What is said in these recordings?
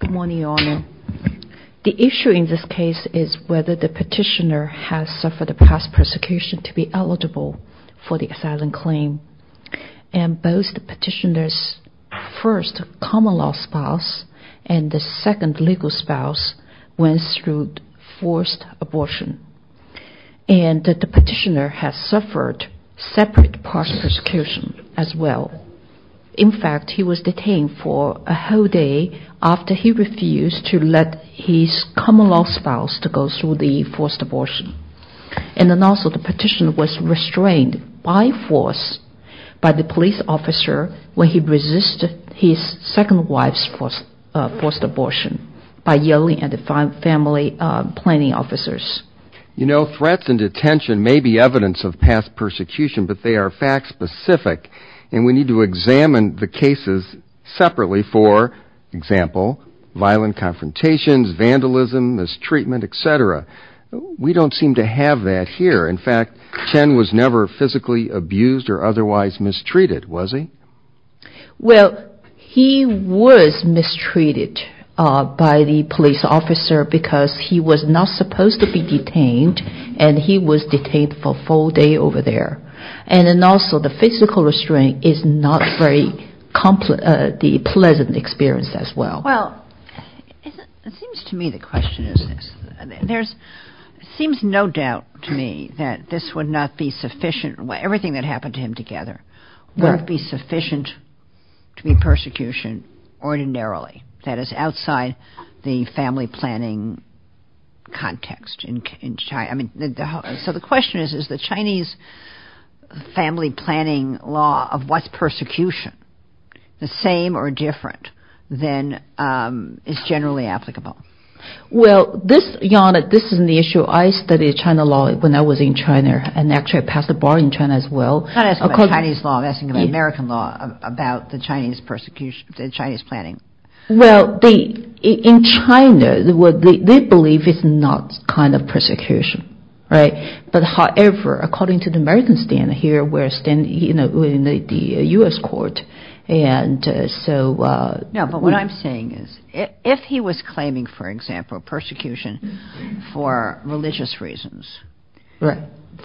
Good morning, Your Honor. The issue in this case is whether the petitioner has suffered a past persecution to be eligible for the asylum claim. And both the petitioner's first common-law spouse and the second legal spouse went through forced abortion. And the petitioner has suffered separate past persecution as well. In fact, he was detained for a whole day after he refused to let his common-law spouse to go through the forced abortion. And then also the petitioner was restrained by force by the police officer when he resisted his second wife's forced abortion by yelling at the family planning officers. You know, threats and detention may be evidence of past persecution, but they are fact-specific. And we need to examine the cases separately, for example, violent confrontations, vandalism, mistreatment, etc. We don't seem to have that here. In fact, Chen was never physically abused or otherwise mistreated, was he? Well, he was mistreated by the police officer because he was not supposed to be detained and he was detained for a full day over there. And then also the physical restraint is not a very pleasant experience as well. Well, it seems to me the question is this. There seems no doubt to me that this would not be sufficient. Everything that happened to him together would not be sufficient to be persecution ordinarily. That is outside the family planning context in China. So the question is, is the Chinese family planning law of what's persecution the same or different than is generally applicable? Well, this is an issue I studied China law when I was in China and actually passed a bar in China as well. I'm not asking about Chinese law, I'm asking about American law, about the Chinese planning. Well, in China, they believe it's not kind of persecution, right? But however, according to the American standard here, within the U.S. court, and so... No, but what I'm saying is if he was claiming, for example, persecution for religious reasons,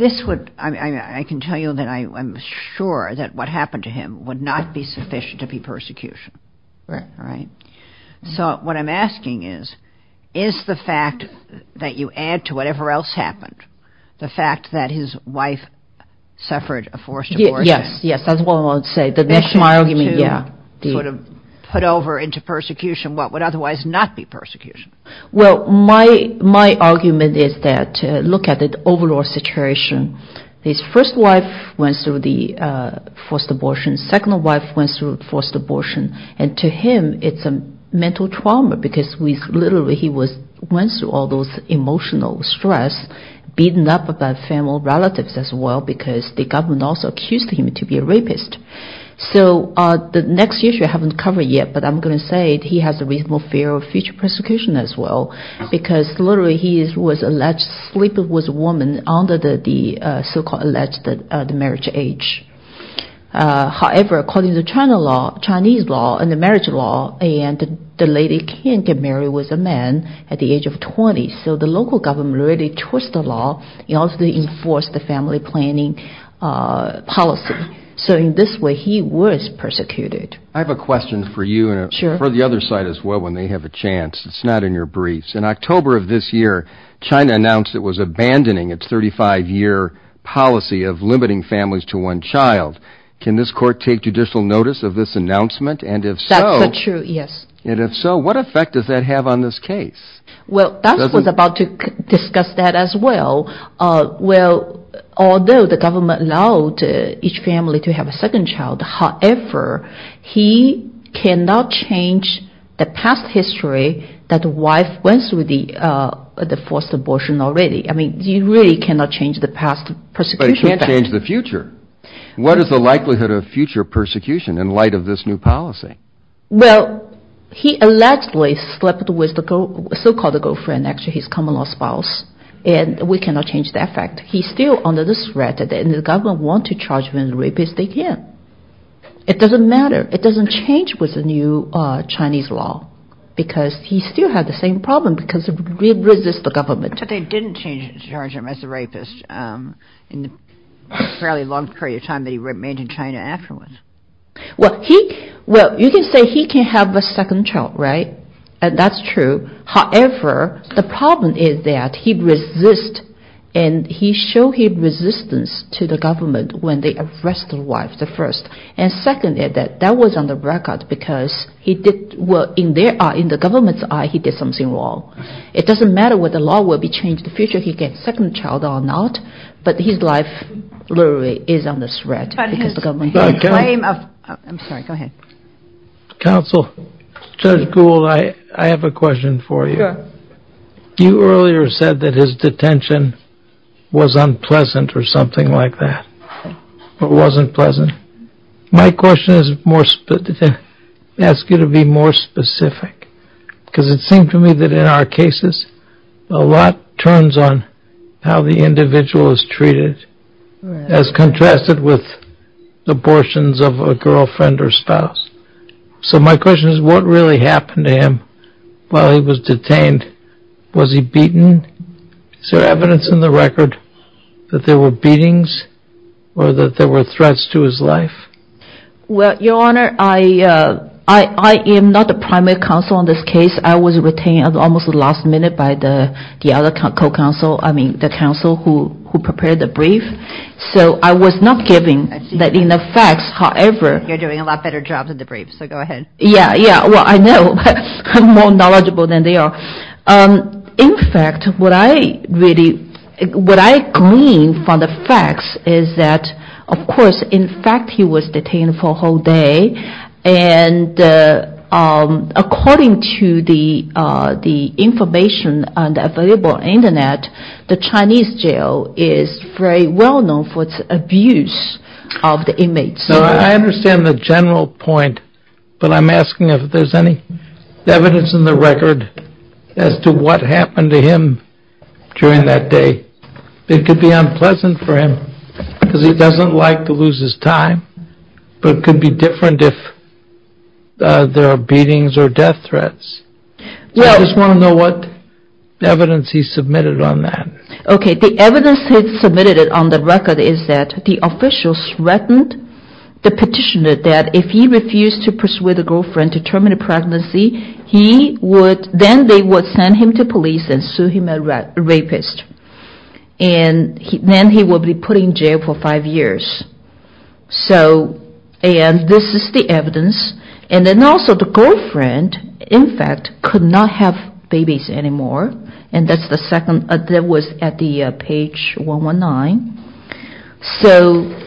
this would, I can tell you that I'm sure that what happened to him would not be sufficient to be persecution, right? So what I'm asking is, is the fact that you add to whatever else happened, the fact that his wife suffered a forced abortion... What would otherwise not be persecution? Well, my argument is that look at the overall situation. His first wife went through the forced abortion, second wife went through forced abortion. And to him, it's a mental trauma because literally he went through all those emotional stress, beaten up by family relatives as well because the government also accused him to be a rapist. So the next issue I haven't covered yet, but I'm going to say he has a reasonable fear of future persecution as well because literally he was alleged to sleep with a woman under the so-called alleged marriage age. However, according to Chinese law and the marriage law, the lady can't get married with a man at the age of 20. So the local government really twist the law in order to enforce the family planning policy. So in this way, he was persecuted. I have a question for you and for the other side as well when they have a chance. It's not in your briefs. In October of this year, China announced it was abandoning its 35-year policy of limiting families to one child. Can this court take judicial notice of this announcement? And if so... That's true, yes. And if so, what effect does that have on this case? Well, Doug was about to discuss that as well. Well, although the government allowed each family to have a second child, however, he cannot change the past history that the wife went through the forced abortion already. I mean, you really cannot change the past persecution. But it can't change the future. What is the likelihood of future persecution in light of this new policy? Well, he allegedly slept with the so-called girlfriend, actually his common-law spouse, and we cannot change that fact. He's still under the threat and the government want to charge him as a rapist again. It doesn't matter. It doesn't change with the new Chinese law because he still has the same problem because it resists the government. But they didn't charge him as a rapist in the fairly long period of time that he remained in China afterwards. Well, you can say he can have a second child, right? And that's true. However, the problem is that he resists and he showed his resistance to the government when they arrested the wife, the first. And secondly, that was on the record because in the government's eye, he did something wrong. It doesn't matter whether the law will be changed in the future, he can have a second child or not, but his life literally is under threat because of the government. I'm sorry, go ahead. Counsel, Judge Gould, I have a question for you. Sure. You earlier said that his detention was unpleasant or something like that, but wasn't pleasant. My question is to ask you to be more specific because it seems to me that in our cases, a lot turns on how the individual is treated as contrasted with abortions of a girlfriend or spouse. So my question is what really happened to him while he was detained? Was he beaten? Is there evidence in the record that there were beatings or that there were threats to his life? Well, Your Honor, I am not the primary counsel on this case. I was retained at almost the last minute by the other co-counsel, I mean the counsel who prepared the brief. So I was not given that in effect, however... You're doing a lot better job than the brief, so go ahead. Yeah, yeah, well I know, I'm more knowledgeable than they are. In fact, what I really, what I glean from the facts is that, of course, in fact he was detained for a whole day and according to the information on the available internet, the Chinese jail is very well known for its abuse of the inmates. So I understand the general point, but I'm asking if there's any evidence in the record as to what happened to him during that day. It could be unpleasant for him because he doesn't like to lose his time, but it could be different if there are beatings or death threats. I just want to know what evidence he submitted on that. Okay, the evidence he submitted on the record is that the official threatened the petitioner that if he refused to persuade the girlfriend to terminate the pregnancy, he would, then they would send him to police and sue him a rapist. And then he would be put in jail for five years. So, and this is the evidence. And then also the girlfriend, in fact, could not have babies anymore. And that's the second, that was at the page 119. So,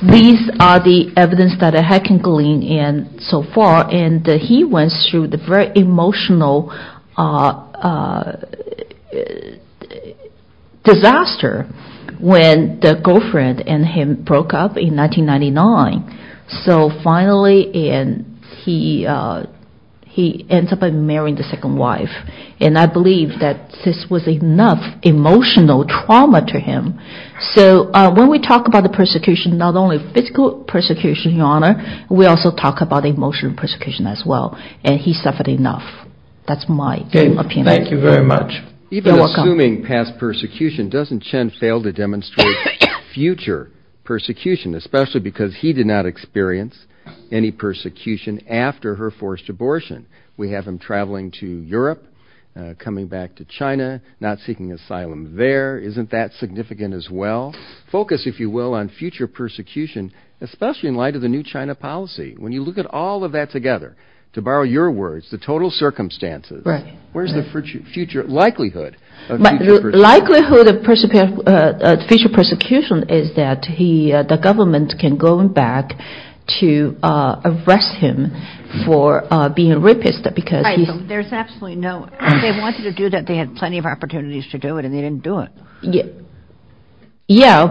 these are the evidence that I can glean so far. And he went through the very emotional disaster when the girlfriend and him broke up in 1999. So finally, he ends up marrying the second wife. And I believe that this was enough emotional trauma to him. So, when we talk about the persecution, not only physical persecution, Your Honor, we also talk about emotional persecution as well. And he suffered enough. That's my opinion. Thank you very much. You're welcome. Even assuming past persecution, doesn't Chen fail to demonstrate future persecution, especially because he did not experience any persecution after her forced abortion? We have him traveling to Europe, coming back to China, not seeking asylum there. Isn't that significant as well? Focus, if you will, on future persecution, especially in light of the new China policy. When you look at all of that together, to borrow your words, the total circumstances, where's the future likelihood of future persecution? The government can go back to arrest him for being a rapist because he's There's absolutely no, they wanted to do that. They had plenty of opportunities to do it and they didn't do it. Yeah.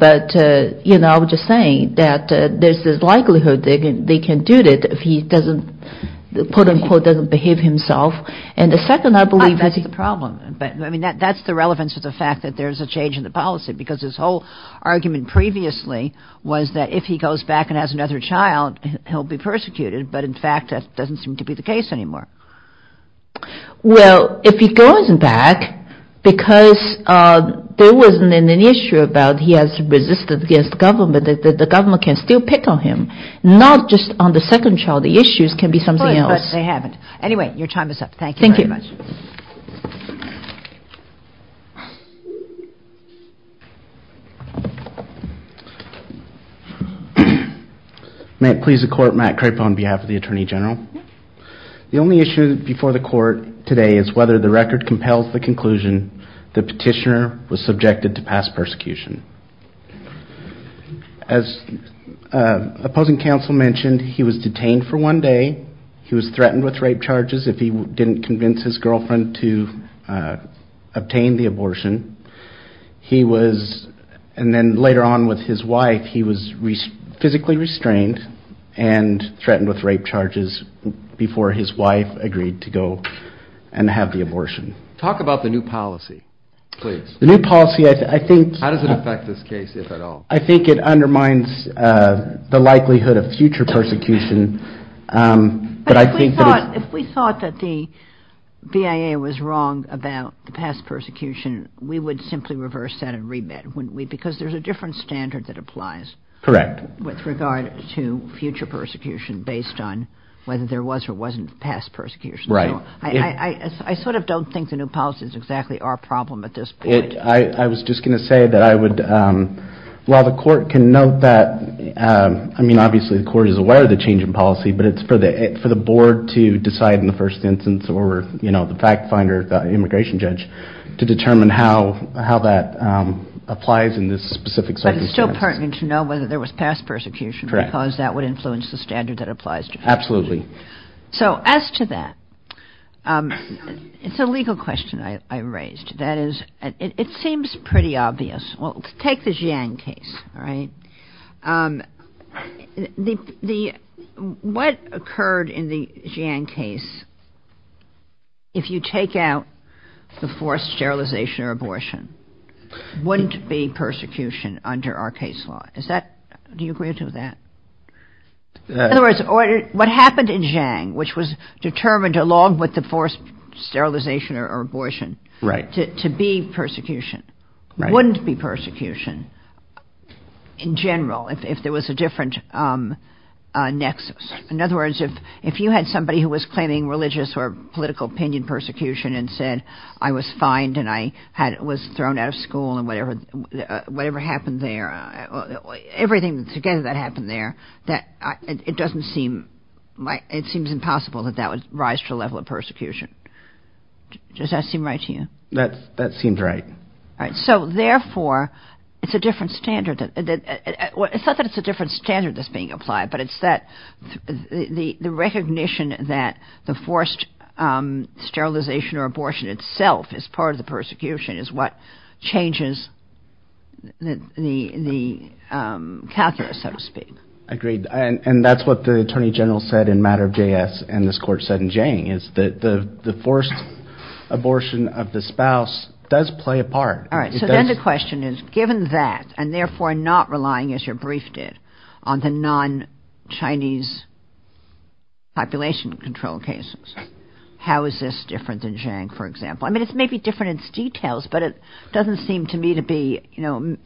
But, you know, I'm just saying that there's this likelihood they can do it if he doesn't, quote unquote, doesn't behave himself. And the second, I believe, That's the problem. I mean, that's the relevance of the fact that there's a change in the policy, because his whole argument previously was that if he goes back and has another child, he'll be persecuted. But in fact, that doesn't seem to be the case anymore. Well, if he goes back because there wasn't an issue about he has resisted against government, the government can still pick on him, not just on the second child. The issues can be something else. But they haven't. Anyway, your time is up. Thank you very much. Thank you. May it please the court, Matt Crapo on behalf of the Attorney General. The only issue before the court today is whether the record compels the conclusion the petitioner was subjected to past persecution. As opposing counsel mentioned, he was detained for one day. He was threatened with rape charges if he didn't convince his girlfriend to obtain the abortion. He was, and then later on with his wife, he was physically restrained and threatened with rape charges before his wife agreed to go and have the abortion. Talk about the new policy, please. The new policy, I think. How does it affect this case, if at all? I think it undermines the likelihood of future persecution. But if we thought that the BIA was wrong about the past persecution, we would simply reverse that and remit, wouldn't we? Because there's a different standard that applies. Correct. With regard to future persecution based on whether there was or wasn't past persecution. Right. I sort of don't think the new policy is exactly our problem at this point. I was just going to say that I would, while the court can note that, I mean, obviously the court is aware of the change in policy, but it's for the board to decide in the first instance or the fact finder, the immigration judge, to determine how that applies in this specific circumstance. But it's still pertinent to know whether there was past persecution. Correct. Because that would influence the standard that applies to future persecution. Absolutely. So as to that, it's a legal question I raised. That is, it seems pretty obvious. Well, take the Jiang case, all right? What occurred in the Jiang case, if you take out the forced sterilization or abortion, wouldn't be persecution under our case law. Do you agree with that? In other words, what happened in Jiang, which was determined along with the forced sterilization or abortion to be persecution, wouldn't be persecution in general if there was a different nexus. In other words, if you had somebody who was claiming religious or political opinion persecution and said, I was fined and I was thrown out of school and whatever happened there, everything together that happened there, it doesn't seem, it seems impossible that that would rise to a level of persecution. Does that seem right to you? That seems right. So therefore, it's a different standard. It's not that it's a different standard that's being applied, but it's that the recognition that the forced sterilization or abortion itself is part of the persecution is what changes the calculus, so to speak. Agreed. And that's what the attorney general said in matter of JS and this court said in Jiang, is that the forced abortion of the spouse does play a part. All right. So then the question is, given that and therefore not relying, as your brief did, on the non-Chinese population control cases, how is this different than Jiang, for example? I mean, it's maybe different in details, but it doesn't seem to me to be, you know,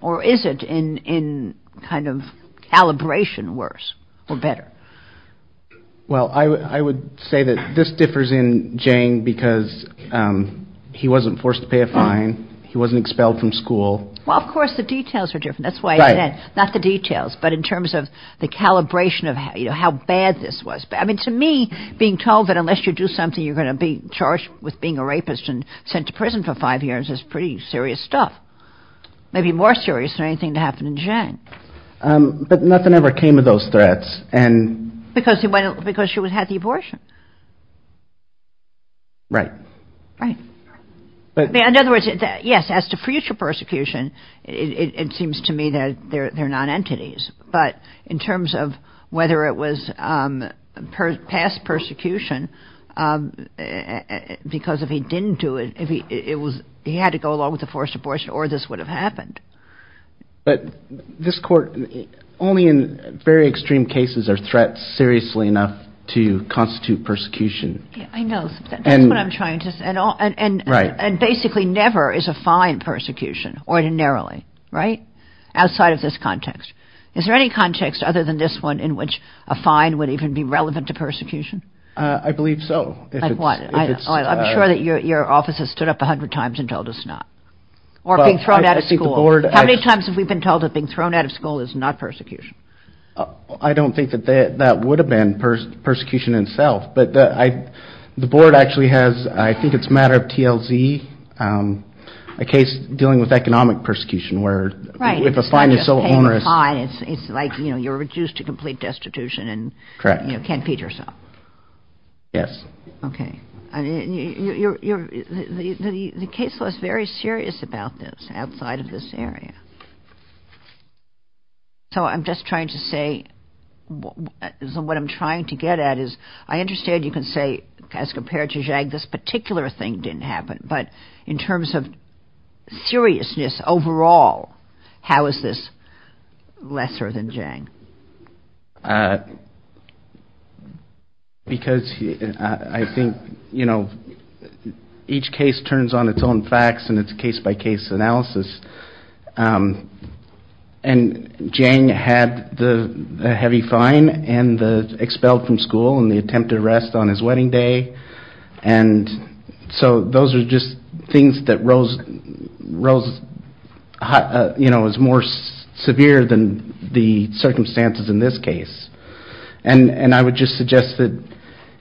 or is it in kind of calibration worse or better? Well, I would say that this differs in Jiang because he wasn't forced to pay a fine. He wasn't expelled from school. Well, of course, the details are different. That's why I said, not the details, but in terms of the calibration of how bad this was. I mean, to me, being told that unless you do something, you're going to be charged with being a rapist and sent to prison for five years is pretty serious stuff. Maybe more serious than anything that happened in Jiang. But nothing ever came of those threats. Because she had the abortion. Right. Right. In other words, yes, as to future persecution, it seems to me that they're non-entities. But in terms of whether it was past persecution, because if he didn't do it, he had to go along with the forced abortion or this would have happened. But this court, only in very extreme cases are threats seriously enough to constitute persecution. I know. That's what I'm trying to say. Right. And basically never is a fine persecution ordinarily. Right? Outside of this context. Is there any context other than this one in which a fine would even be relevant to persecution? I believe so. Like what? I'm sure that your office has stood up a hundred times and told us not. Or being thrown out of school. How many times have we been told that being thrown out of school is not persecution? I don't think that that would have been persecution itself. But the board actually has, I think it's a matter of TLZ, a case dealing with economic persecution, where if a fine is so onerous. It's like you're reduced to complete destitution and can't feed yourself. Yes. Okay. The case was very serious about this outside of this area. So I'm just trying to say what I'm trying to get at is I understand you can say as compared to Zhang, this particular thing didn't happen. But in terms of seriousness overall, how is this lesser than Zhang? Because I think each case turns on its own facts and its case-by-case analysis. And Zhang had the heavy fine and expelled from school and the attempted arrest on his wedding day. And so those are just things that rose as more severe than the circumstances in this case. And I would just suggest that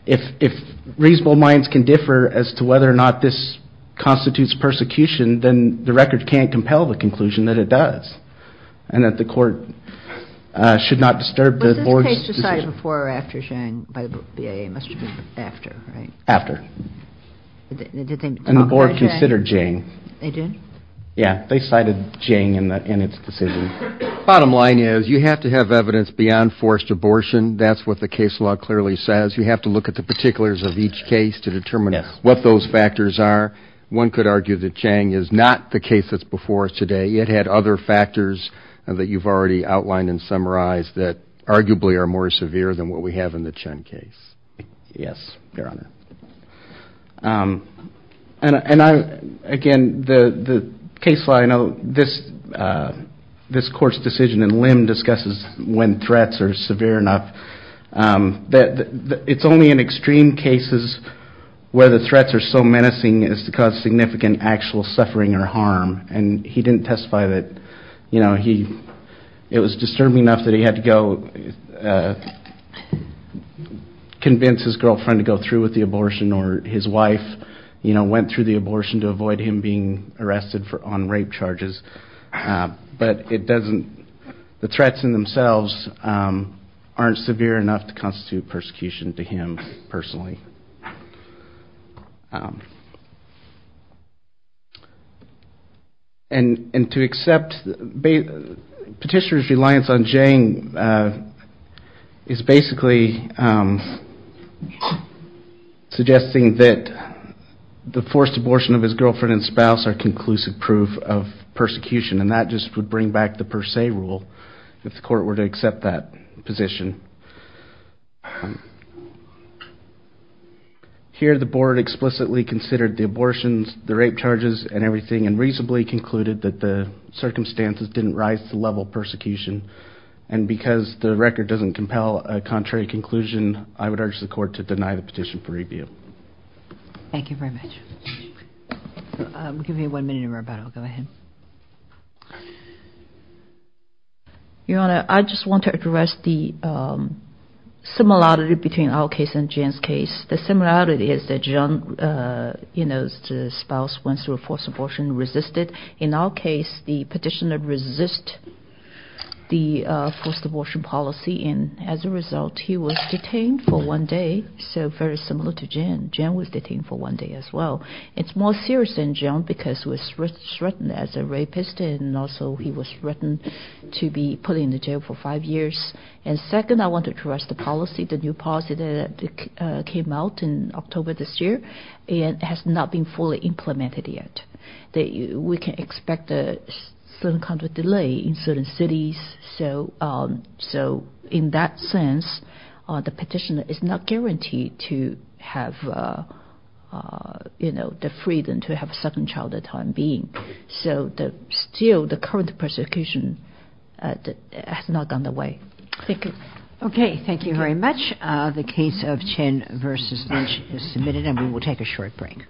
if reasonable minds can differ as to whether or not this constitutes persecution, then the record can't compel the conclusion that it does. And that the court should not disturb the board's decision. They cited before or after Zhang by the BIA. It must have been after, right? After. And the board considered Zhang. They did? Yeah. They cited Zhang in its decision. Bottom line is you have to have evidence beyond forced abortion. That's what the case law clearly says. You have to look at the particulars of each case to determine what those factors are. One could argue that Zhang is not the case that's before us today. It had other factors that you've already outlined and summarized that arguably are more severe than what we have in the Chen case. Yes, Your Honor. And again, the case law, I know this court's decision in Lim discusses when threats are severe enough. It's only in extreme cases where the threats are so menacing as to cause significant actual suffering or harm. And he didn't testify that, you know, it was disturbing enough that he had to go convince his girlfriend to go through with the abortion or his wife went through the abortion to avoid him being arrested on rape charges. But it doesn't, the threats in themselves aren't severe enough to constitute persecution to him personally. And to accept Petitioner's reliance on Zhang is basically suggesting that the forced abortion of his girlfriend and spouse are conclusive proof of persecution. And that just would bring back the per se rule if the court were to accept that position. Here the board explicitly considered the abortions, the rape charges and everything and reasonably concluded that the circumstances didn't rise to the level of persecution. And because the record doesn't compel a contrary conclusion, I would urge the court to deny the petition for review. Thank you very much. Your Honor, I just want to address the similarity between our case and Zhang's case. The similarity is that Zhang's spouse went through a forced abortion and resisted. In our case, the petitioner resisted the forced abortion policy and as a result he was detained for one day. So very similar to Zhang. Zhang was detained for one day as well. It's more serious than Zhang because he was threatened as a rapist and also he was threatened to be put in jail for five years. And second, I want to address the policy, the new policy that came out in October this year and has not been fully implemented yet. We can expect a certain kind of delay in certain cities. So in that sense, the petitioner is not guaranteed to have the freedom to have a second child at the time being. So still the current persecution has not gone away. Thank you. Okay, thank you very much. The case of Chen v. Lynch is submitted and we will take a short break.